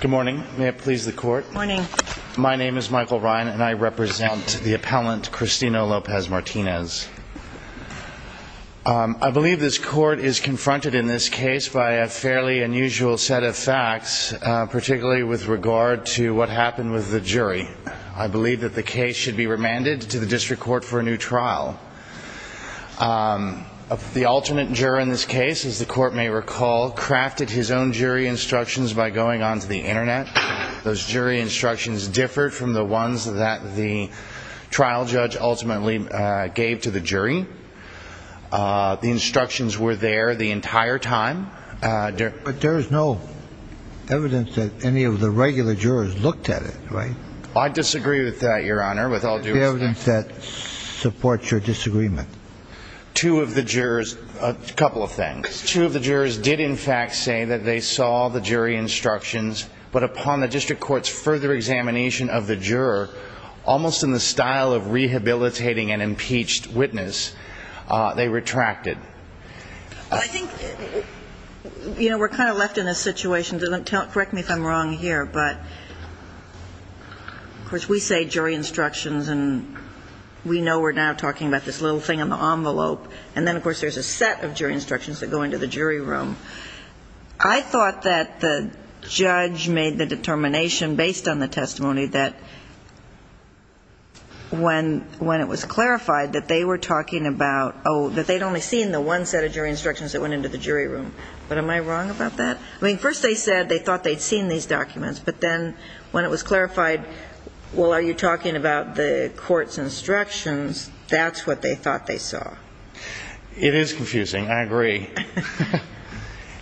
Good morning. May it please the court? My name is Michael Ryan and I represent the appellant Cristino Lopez-Martinez. I believe this court is confronted in this case by a fairly unusual set of facts, particularly with regard to what happened with the jury. I believe that the case should be remanded to the district court for a new trial. The alternate juror in this case, as the court may recall, crafted his own jury instructions by going onto the internet. Those jury instructions differed from the ones that the trial judge ultimately gave to the jury. The instructions were there the entire time. But there is no evidence that any of the regular jurors looked at it, right? I disagree with that, Your Honor, with all due respect. There is no evidence that supports your disagreement. Two of the jurors, a couple of things. Two of the jurors did, in fact, say that they saw the jury instructions. But upon the district court's further examination of the juror, almost in the style of rehabilitating an impeached witness, they retracted. I think, you know, we're kind of left in a situation, correct me if I'm wrong here, but, of course, we say jury instructions, and we know we're now talking about this little thing in the envelope. And then, of course, there's a set of jury instructions that go into the jury room. I thought that the judge made the determination based on the testimony that when it was clarified that they were talking about, oh, that they'd only seen the one set of jury instructions that went into the jury room. But am I wrong about that? I mean, first they said they thought they'd seen these documents. But then when it was clarified, well, are you talking about the court's instructions, that's what they thought they saw. It is confusing. I agree.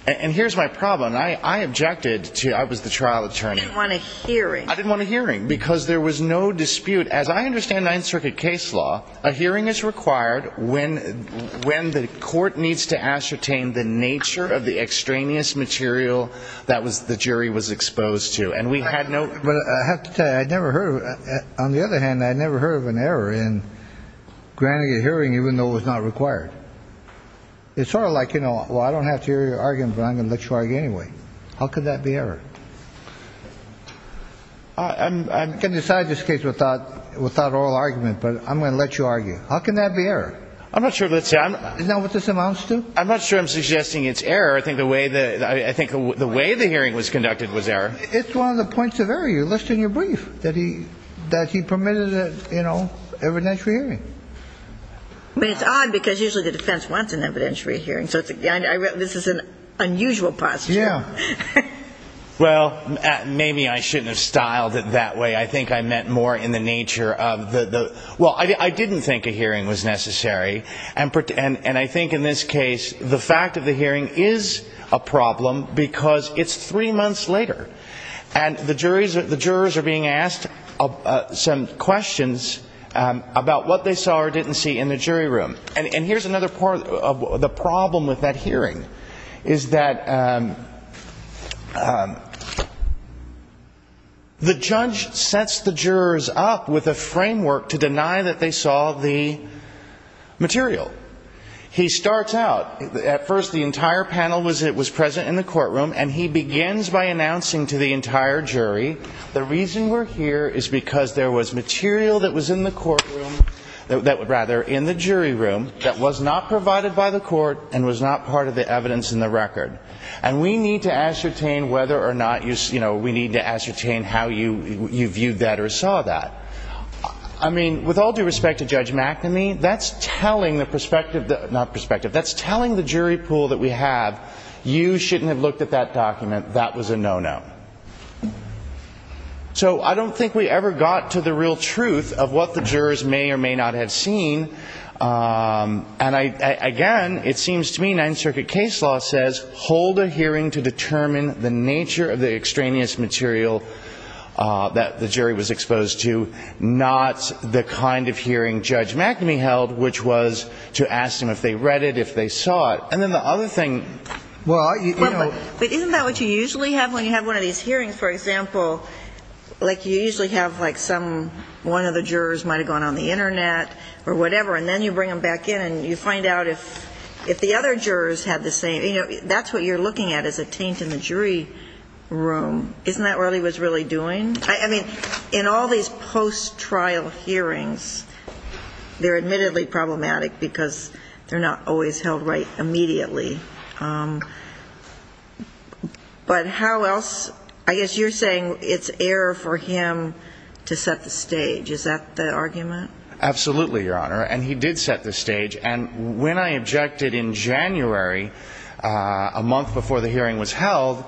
And here's my problem. I objected to it. I was the trial attorney. You didn't want a hearing. I didn't want a hearing because there was no dispute. As I understand Ninth Circuit case law, a hearing is required when the court needs to ascertain the nature of the extraneous material that the jury was exposed to. But I have to tell you, I never heard of it. On the other hand, I never heard of an error in granting a hearing even though it was not required. It's sort of like, you know, well, I don't have to hear your argument, but I'm going to let you argue anyway. How could that be error? I'm going to decide this case without oral argument, but I'm going to let you argue. How can that be error? I'm not sure. Isn't that what this amounts to? I'm not sure I'm suggesting it's error. I think the way the hearing was conducted was error. It's one of the points of error you list in your brief, that he permitted, you know, evidentiary hearing. But it's odd because usually the defense wants an evidentiary hearing. So this is an unusual posture. Yeah. Well, maybe I shouldn't have styled it that way. I think I meant more in the nature of the ñ well, I didn't think a hearing was necessary. And I think in this case the fact of the hearing is a problem because it's three months later. And the jurors are being asked some questions about what they saw or didn't see in the jury room. And here's another part of the problem with that hearing is that the judge sets the jurors up with a framework to deny that they saw the material. He starts out, at first the entire panel was present in the courtroom, and he begins by announcing to the entire jury, the reason we're here is because there was material that was in the courtroom, rather, in the jury room, that was not provided by the court and was not part of the evidence in the record. And we need to ascertain whether or not, you know, we need to ascertain how you viewed that or saw that. I mean, with all due respect to Judge McNamee, that's telling the perspective ñ not perspective. That's telling the jury pool that we have, you shouldn't have looked at that document. That was a no-no. So I don't think we ever got to the real truth of what the jurors may or may not have seen. And, again, it seems to me Ninth Circuit case law says, hold a hearing to determine the nature of the extraneous material that the jury was exposed to, not the kind of hearing Judge McNamee held, which was to ask them if they read it, if they saw it. And then the other thing ñ well, you know ñ But isn't that what you usually have when you have one of these hearings, for example? Like, you usually have, like, some ñ one of the jurors might have gone on the Internet or whatever, and then you bring them back in and you find out if the other jurors had the same ñ you know, that's what you're looking at is a taint in the jury room. Isn't that what he was really doing? I mean, in all these post-trial hearings, they're admittedly problematic because they're not always held right immediately. But how else ñ I guess you're saying it's error for him to set the stage. Is that the argument? Absolutely, Your Honor. And he did set the stage. And when I objected in January, a month before the hearing was held,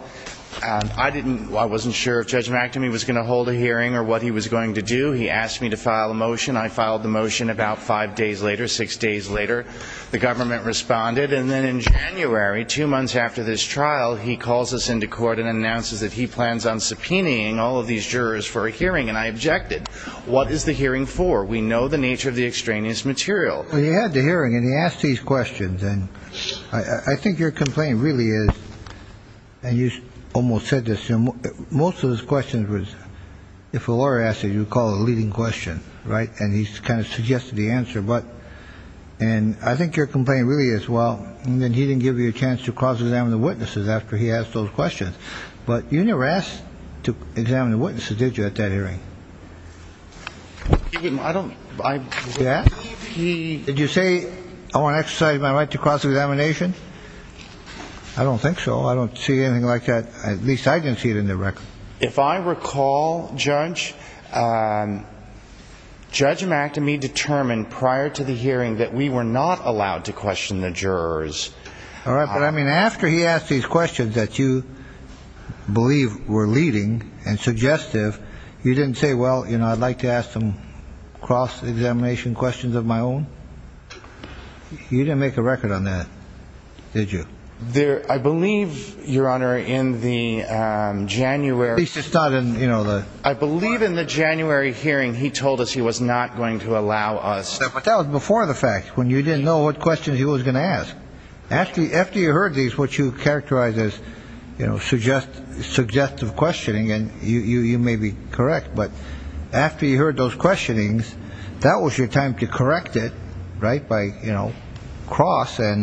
I didn't ñ I wasn't sure if Judge McNamee was going to hold a hearing or what he was going to do. He asked me to file a motion. I filed the motion about five days later, six days later. The government responded. And then in January, two months after this trial, he calls us into court and announces that he plans on subpoenaing all of these jurors for a hearing. And I objected. What is the hearing for? We know the nature of the extraneous material. Well, you had the hearing, and he asked these questions. And I think your complaint really is ñ and you almost said this ñ most of his questions was, if a lawyer asked it, you would call it a leading question, right? And he kind of suggested the answer. But ñ and I think your complaint really is, well, he didn't give you a chance to cross-examine the witnesses after he asked those questions. But you never asked to examine the witnesses, did you, at that hearing? I don't ñ I ñ Yeah? He ñ Did you say, I want to exercise my right to cross-examination? I don't think so. I don't see anything like that. At least I didn't see it in the record. If I recall, Judge, Judge McAtemy determined prior to the hearing that we were not allowed to question the jurors. All right. But, I mean, after he asked these questions that you believe were leading and suggestive, you didn't say, well, you know, I'd like to ask some cross-examination questions of my own? You didn't make a record on that, did you? There ñ I believe, Your Honor, in the January ñ At least it's not in, you know, the ñ I believe in the January hearing he told us he was not going to allow us ñ But that was before the fact, when you didn't know what questions he was going to ask. After you heard these, what you characterize as, you know, suggestive questioning, and you may be correct, but after you heard those questionings, that was your time to correct it, right, by, you know, cross, and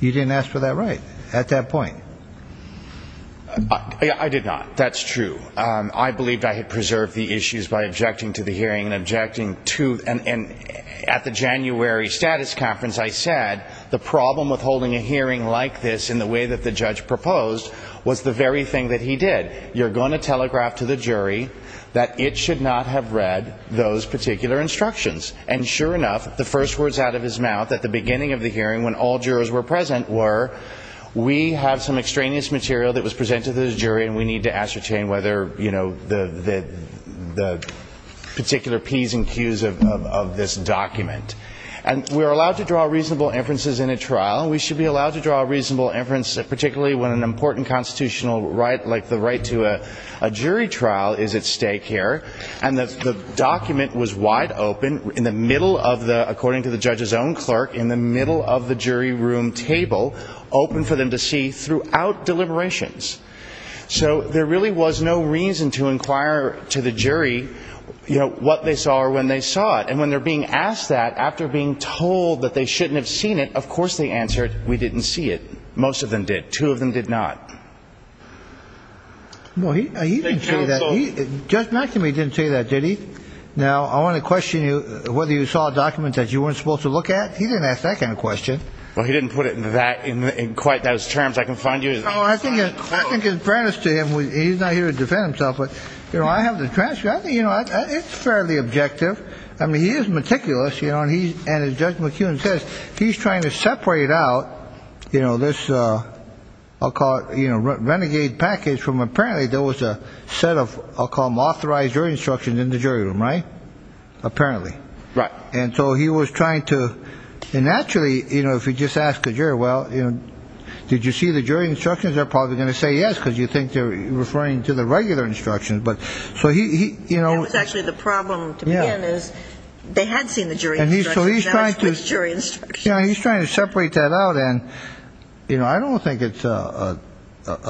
you didn't ask for that right at that point. I did not. That's true. I believed I had preserved the issues by objecting to the hearing and objecting to ñ and at the January status conference I said the problem with holding a hearing like this in the way that the judge proposed was the very thing that he did. You're going to telegraph to the jury that it should not have read those particular instructions. And sure enough, the first words out of his mouth at the beginning of the hearing, when all jurors were present, were, we have some extraneous material that was presented to the jury and we need to ascertain whether, you know, the particular Ps and Qs of this document. And we are allowed to draw reasonable inferences in a trial. We should be allowed to draw a reasonable inference, particularly when an important constitutional right, like the right to a jury trial, is at stake here. And the document was wide open in the middle of the ñ according to the judge's own clerk, in the middle of the jury room table, open for them to see throughout deliberations. So there really was no reason to inquire to the jury, you know, what they saw or when they saw it. And when they're being asked that after being told that they shouldn't have seen it, of course they answered, we didn't see it. Most of them did. Two of them did not. Well, he didn't say that. Judge McEwen didn't say that, did he? Now, I want to question you, whether you saw a document that you weren't supposed to look at? He didn't ask that kind of question. Well, he didn't put it in that ñ in quite those terms. I can find you ñ Oh, I think it's fairness to him. He's not here to defend himself, but, you know, I have the transcript. I think, you know, it's fairly objective. I mean, he is meticulous, you know, and he's ñ and as Judge McEwen says, he's trying to separate out, you know, this, I'll call it, you know, renegade package from ñ apparently there was a set of, I'll call them authorized jury instructions in the jury room, right? Apparently. Right. And so he was trying to ñ and actually, you know, if you just ask a jury, well, you know, did you see the jury instructions, they're probably going to say yes because you think they're referring to the regular instructions. But so he, you know ñ That was actually the problem to begin is they had seen the jury instructions. Yeah, he's trying to separate that out. And, you know, I don't think it's a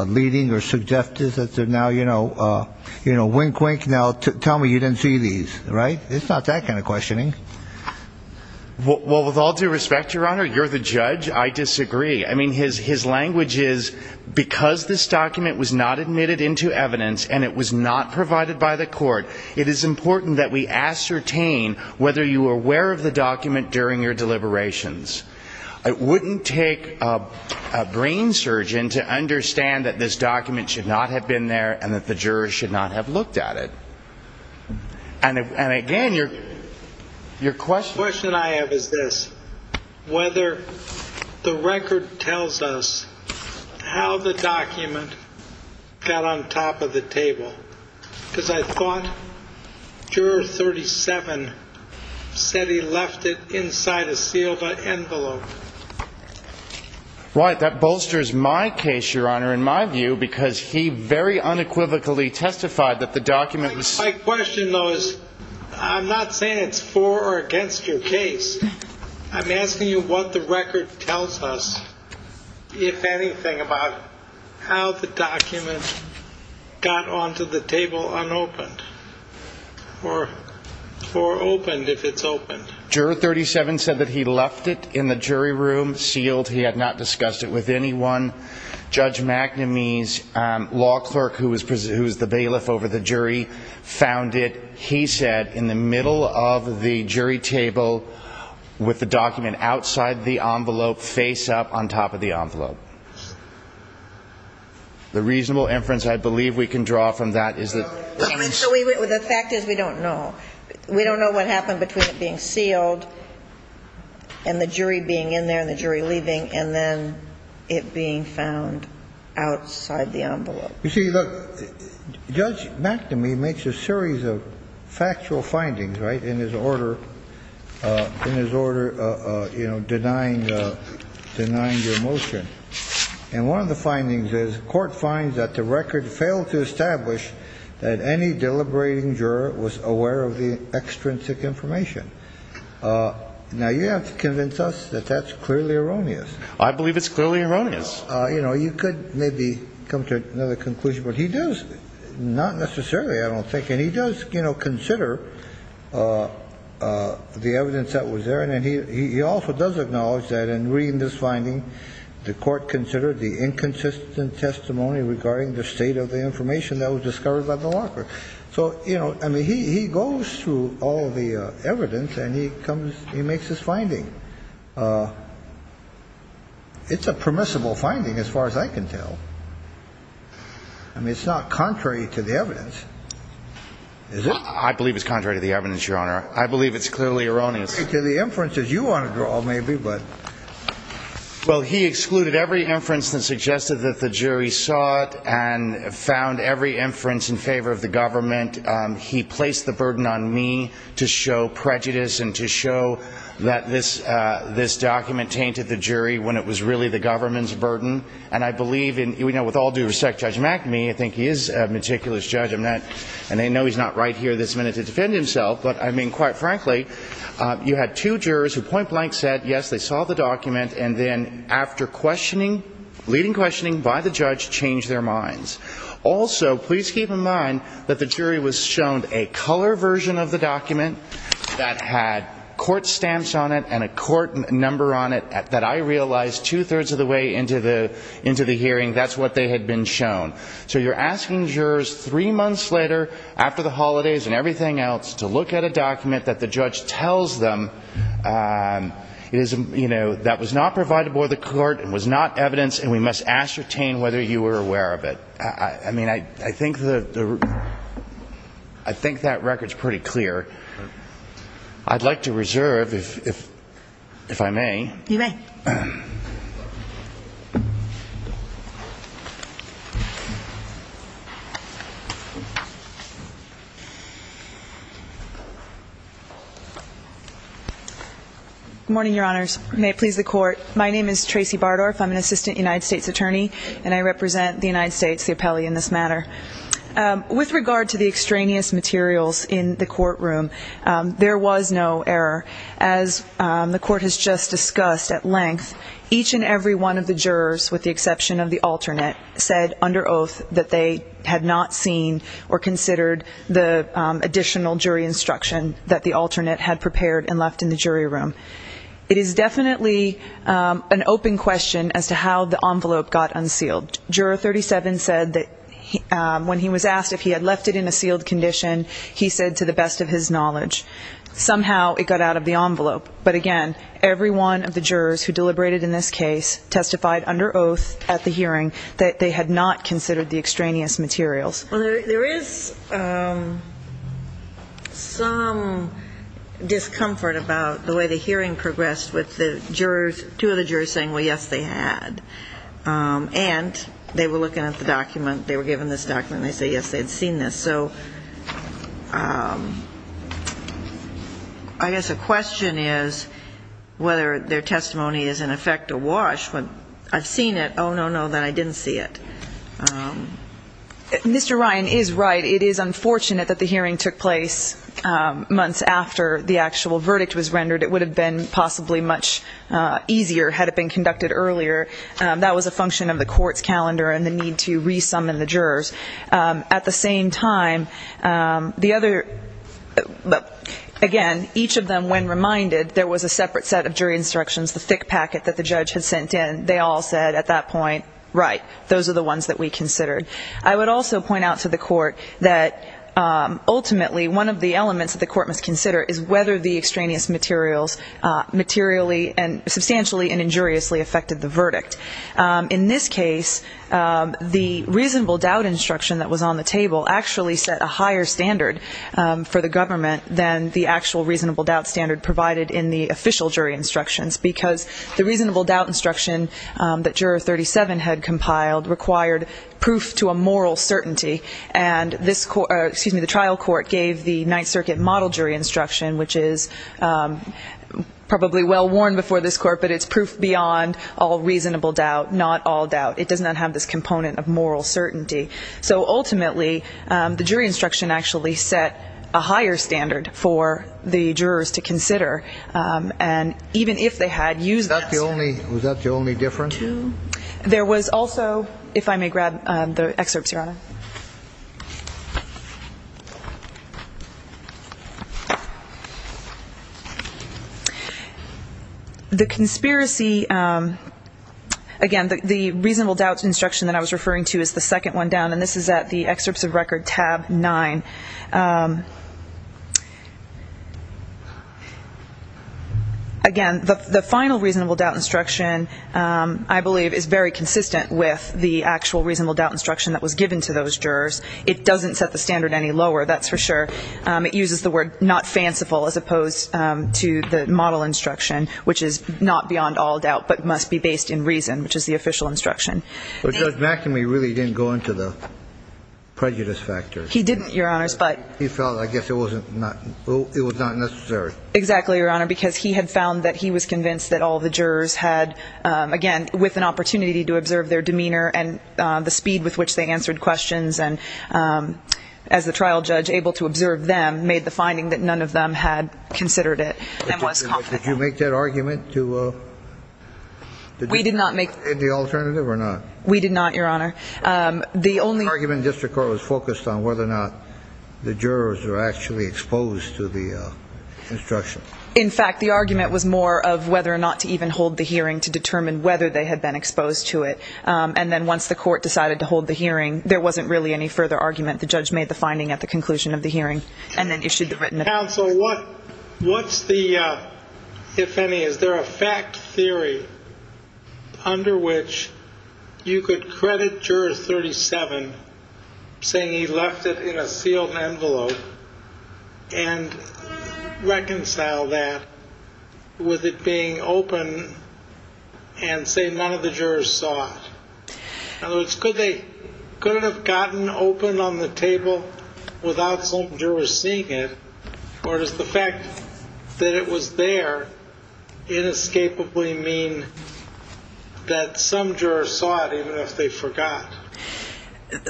leading or suggestive that they're now, you know, wink, wink, now tell me you didn't see these, right? It's not that kind of questioning. Well, with all due respect, Your Honor, you're the judge. I disagree. I mean, his language is because this document was not admitted into evidence and it was not provided by the court, it is important that we ascertain whether you were aware of the document during your deliberations. It wouldn't take a brain surgeon to understand that this document should not have been there and that the jurors should not have looked at it. And again, your question ñ The question I have is this, whether the record tells us how the document got on top of the table. Because I thought Juror 37 said he left it inside a sealed envelope. Right. That bolsters my case, Your Honor, in my view, because he very unequivocally testified that the document was ñ My question, though, is I'm not saying it's for or against your case. I'm asking you what the record tells us, if anything, about how the document got onto the table unopened. Or opened, if it's opened. Juror 37 said that he left it in the jury room, sealed. He had not discussed it with anyone. Judge McNamee's law clerk, who was the bailiff over the jury, found it. He said in the middle of the jury table with the document outside the envelope, face up on top of the envelope. The reasonable inference I believe we can draw from that is that ñ The fact is we don't know. We don't know what happened between it being sealed and the jury being in there and the jury leaving, and then it being found outside the envelope. You see, look, Judge McNamee makes a series of factual findings, right, in his order ñ in his order, you know, denying ñ denying your motion. And one of the findings is court finds that the record failed to establish that any deliberating juror was aware of the extrinsic information. Now, you have to convince us that that's clearly erroneous. I believe it's clearly erroneous. Because, you know, you could maybe come to another conclusion. But he does ñ not necessarily, I don't think. And he does, you know, consider the evidence that was there. And he also does acknowledge that in reading this finding, the court considered the inconsistent testimony regarding the state of the information that was discovered by the law clerk. So, you know, I mean, he goes through all of the evidence and he comes ñ he makes his finding. It's a permissible finding as far as I can tell. I mean, it's not contrary to the evidence, is it? I believe it's contrary to the evidence, Your Honor. I believe it's clearly erroneous. To the inferences you want to draw, maybe, but. Well, he excluded every inference that suggested that the jury saw it and found every inference in favor of the government. He placed the burden on me to show prejudice and to show that this document tainted the jury when it was really the government's burden. And I believe in ñ you know, with all due respect, Judge McNamee, I think he is a meticulous judge. I'm not ñ and I know he's not right here this minute to defend himself. But, I mean, quite frankly, you had two jurors who point blank said, yes, they saw the document. And then after questioning, leading questioning by the judge, changed their minds. Also, please keep in mind that the jury was shown a color version of the document that had court stamps on it and a court number on it that I realized two-thirds of the way into the hearing, that's what they had been shown. So you're asking jurors three months later, after the holidays and everything else, to look at a document that the judge tells them, you know, that was not provided by the court, it was not evidence, and we must ascertain whether you were aware of it. I mean, I think the ñ I think that record's pretty clear. I'd like to reserve, if I may. You may. Good morning, Your Honors. May it please the Court. My name is Tracy Bardorf. I'm an assistant United States attorney, and I represent the United States, the appellee in this matter. With regard to the extraneous materials in the courtroom, there was no error. As the Court has just discussed at length, each and every one of the jurors, with the exception of the alternate, said under oath that they had not seen or considered the additional jury instruction that the alternate had prepared and left in the jury room. It is definitely an open question as to how the envelope got unsealed. Juror 37 said that when he was asked if he had left it in a sealed condition, he said to the best of his knowledge. Somehow it got out of the envelope. But, again, every one of the jurors who deliberated in this case testified under oath at the hearing that they had not considered the extraneous materials. Well, there is some discomfort about the way the hearing progressed with the jurors ñ two of the jurors saying, well, yes, they had. And they were looking at the document. They were given this document, and they say, yes, they had seen this. So I guess the question is whether their testimony is, in effect, a wash. When I've seen it, oh, no, no, then I didn't see it. Mr. Ryan is right. It is unfortunate that the hearing took place months after the actual verdict was rendered. It would have been possibly much easier had it been conducted earlier. That was a function of the Court's calendar and the need to re-summon the jurors. At the same time, the other ñ again, each of them, when reminded, there was a separate set of jury instructions, the thick packet that the judge had sent in. They all said at that point, right, those are the ones that we considered. I would also point out to the Court that, ultimately, one of the elements that the Court must consider is whether the extraneous materials In this case, the reasonable doubt instruction that was on the table actually set a higher standard for the government than the actual reasonable doubt standard provided in the official jury instructions because the reasonable doubt instruction that Juror 37 had compiled required proof to a moral certainty. And the trial court gave the Ninth Circuit model jury instruction, which is probably well-worn before this Court, but it's proof beyond all reasonable doubt, not all doubt. It does not have this component of moral certainty. So, ultimately, the jury instruction actually set a higher standard for the jurors to consider. And even if they had used thatÖ Was that the only difference? The conspiracyÖ Again, the reasonable doubt instruction that I was referring to is the second one down, and this is at the Excerpts of Record, Tab 9. Again, the final reasonable doubt instruction, I believe, is very consistent with the actual reasonable doubt instruction that was given to those jurors. It doesn't set the standard any lower, that's for sure. It uses the word not fanciful as opposed to the model instruction, which is not beyond all doubt but must be based in reason, which is the official instruction. But Judge McNamee really didn't go into the prejudice factor. He didn't, Your Honors, butÖ He felt, I guess, it was not necessary. Exactly, Your Honor, because he had found that he was convinced that all the jurors had, again, with an opportunity to observe their demeanor and the speed with which they answered questions and, as the trial judge, able to observe them made the finding that none of them had considered it and was confident. Did you make that argument toÖ We did not makeÖ Öthe alternative or not? We did not, Your Honor. The onlyÖ The argument in district court was focused on whether or not the jurors were actually exposed to the instruction. In fact, the argument was more of whether or not to even hold the hearing to determine whether they had been exposed to it and then once the court decided to hold the hearing, there wasn't really any further argument. The judge made the finding at the conclusion of the hearing and then issued the writtenÖ Counsel, what's the, if any, is there a fact theory under which you could credit Juror 37 saying he left it in a sealed envelope and reconcile that with it being open and say none of the jurors saw it? In other words, could they, could it have gotten open on the table without some jurors seeing it or does the fact that it was there inescapably mean that some jurors saw it even if they forgot?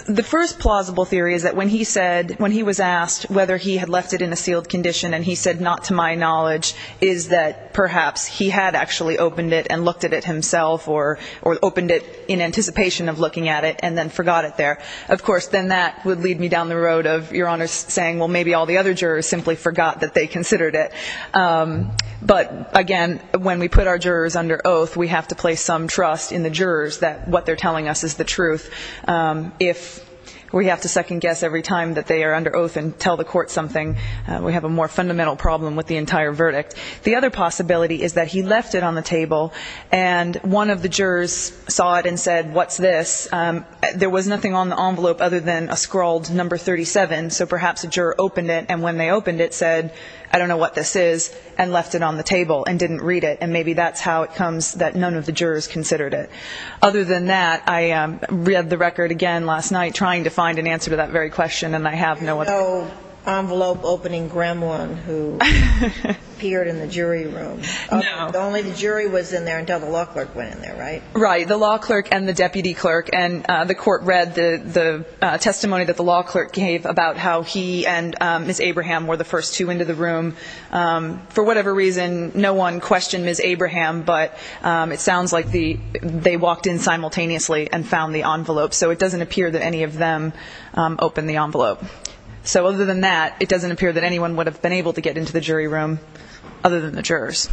The first plausible theory is that when he said, when he was asked whether he had left it in a sealed condition and he said not to my knowledge, is that perhaps he had actually opened it and looked at it himself or opened it in anticipation of looking at it and then forgot it there. Of course, then that would lead me down the road of Your Honor saying, well, maybe all the other jurors simply forgot that they considered it. But again, when we put our jurors under oath, we have to place some trust in the jurors that what they're telling us is the truth. If we have to second guess every time that they are under oath and tell the court something, we have a more fundamental problem with the entire verdict. The other possibility is that he left it on the table and one of the jurors saw it and said, what's this? There was nothing on the envelope other than a scrawled number 37, so perhaps a juror opened it and when they opened it said, I don't know what this is, and left it on the table and didn't read it. And maybe that's how it comes that none of the jurors considered it. Other than that, I read the record again last night trying to find an answer to that very question, and I have no other answer. There was no envelope opening gremlin who appeared in the jury room. No. Only the jury was in there until the law clerk went in there, right? Right. The law clerk and the deputy clerk, and the court read the testimony that the law clerk gave about how he and Ms. Abraham were the first two into the room. For whatever reason, no one questioned Ms. Abraham, but it sounds like they walked in simultaneously and found the envelope, so it doesn't appear that any of them opened the envelope. So other than that, it doesn't appear that anyone would have been able to get into the jury room other than the jurors.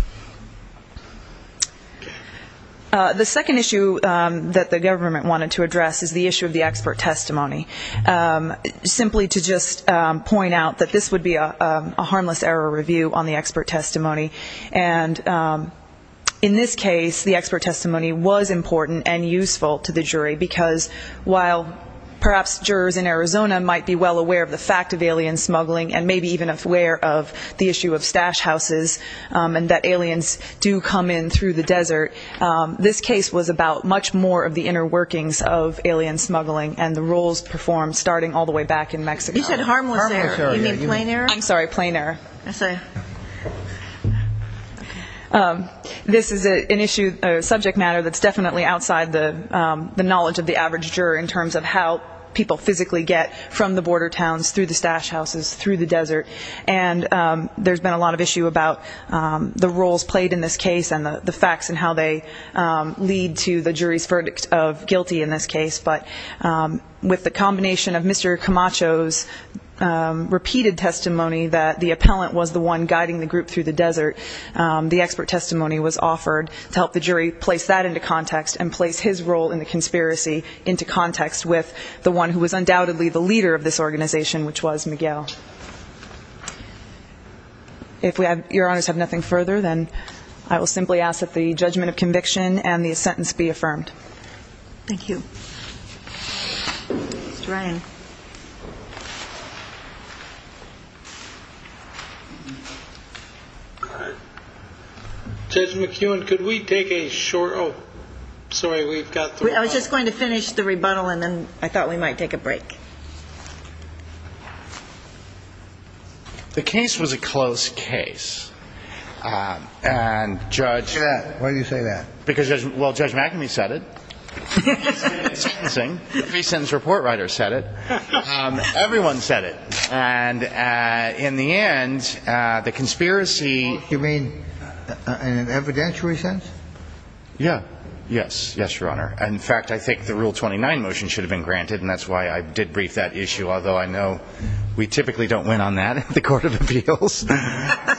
The second issue that the government wanted to address is the issue of the expert testimony, simply to just point out that this would be a harmless error review on the expert testimony. And in this case, the expert testimony was important and useful to the jury because while perhaps jurors in Arizona might be well aware of the fact of alien smuggling and maybe even aware of the issue of stash houses and that aliens do come in through the desert, this case was about much more of the inner workings of alien smuggling and the roles performed starting all the way back in Mexico. You said harmless error. You mean plain error? I'm sorry, plain error. This is an issue, a subject matter that's definitely outside the knowledge of the average juror in terms of how people physically get from the border towns, through the stash houses, through the desert. And there's been a lot of issue about the roles played in this case and the facts and how they lead to the jury's verdict of guilty in this case. But with the combination of Mr. Camacho's repeated testimony that the appellant was the one guiding the group through the desert, the expert testimony was offered to help the jury place that into context and place his role in the conspiracy into context with the one who was undoubtedly the leader of this organization, which was Miguel. If Your Honors have nothing further, then I will simply ask that the judgment of conviction and the sentence be affirmed. Thank you. Mr. Ryan. Judge McEwen, could we take a short oh, sorry, we've got the I was just going to finish the rebuttal and then I thought we might take a break. The case was a close case. And Judge Why do you say that? Well, Judge McAmey said it. The three sentence report writer said it. Everyone said it. And in the end, the conspiracy You mean in an evidentiary sense? Yeah. Yes. Yes, Your Honor. In fact, I think the Rule 29 motion should have been granted, and that's why I did brief that issue, although I know we typically don't win on that in the Court of Appeals. But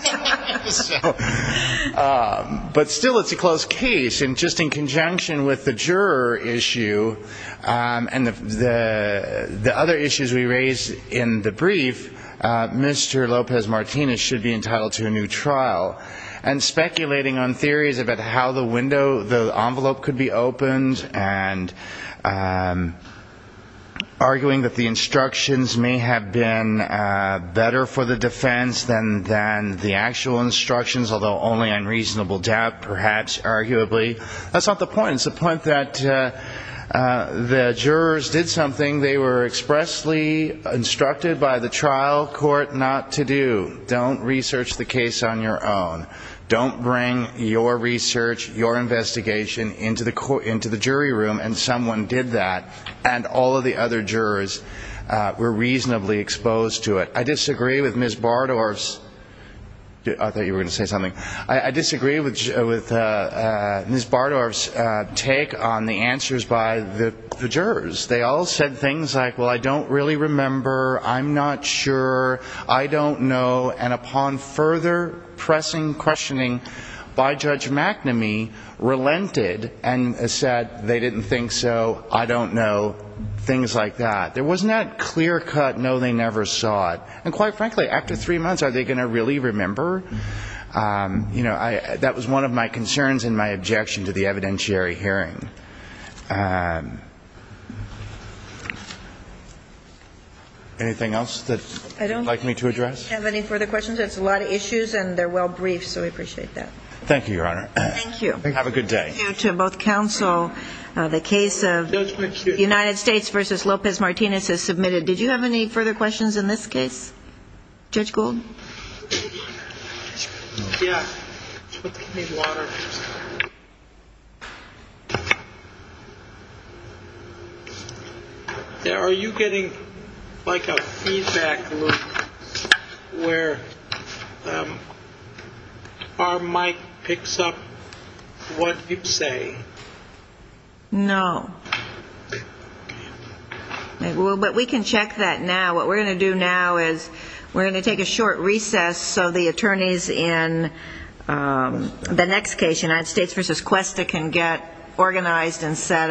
still, it's a close case. And just in conjunction with the juror issue and the other issues we raised in the brief, Mr. Lopez-Martinez should be entitled to a new trial. And speculating on theories about how the envelope could be opened and arguing that the instructions may have been better for the defense than the actual instructions, although only on reasonable doubt, perhaps, arguably. That's not the point. It's the point that the jurors did something they were expressly instructed by the trial court not to do. Don't research the case on your own. Don't bring your research, your investigation into the jury room. And someone did that, and all of the other jurors were reasonably exposed to it. I disagree with Ms. Bardorf's take on the answers by the jurors. They all said things like, well, I don't really remember, I'm not sure, I don't know. And upon further pressing questioning by Judge McNamee, relented and said they didn't think so, I don't know, things like that. There wasn't that clear cut, no, they never saw it. And quite frankly, after three months, are they going to really remember? You know, that was one of my concerns and my objection to the evidentiary hearing. Anything else that you'd like me to address? Do we have any further questions? That's a lot of issues, and they're well briefed, so we appreciate that. Thank you, Your Honor. Thank you. Have a good day. Thank you to both counsel. The case of United States v. Lopez-Martinez is submitted. Did you have any further questions in this case, Judge Gould? Yeah. Are you getting like a feedback loop where our mic picks up what you say? No. But we can check that now. What we're going to do now is we're going to take a short recess so the attorneys in the next case, United States v. Cuesta, can get organized and set up.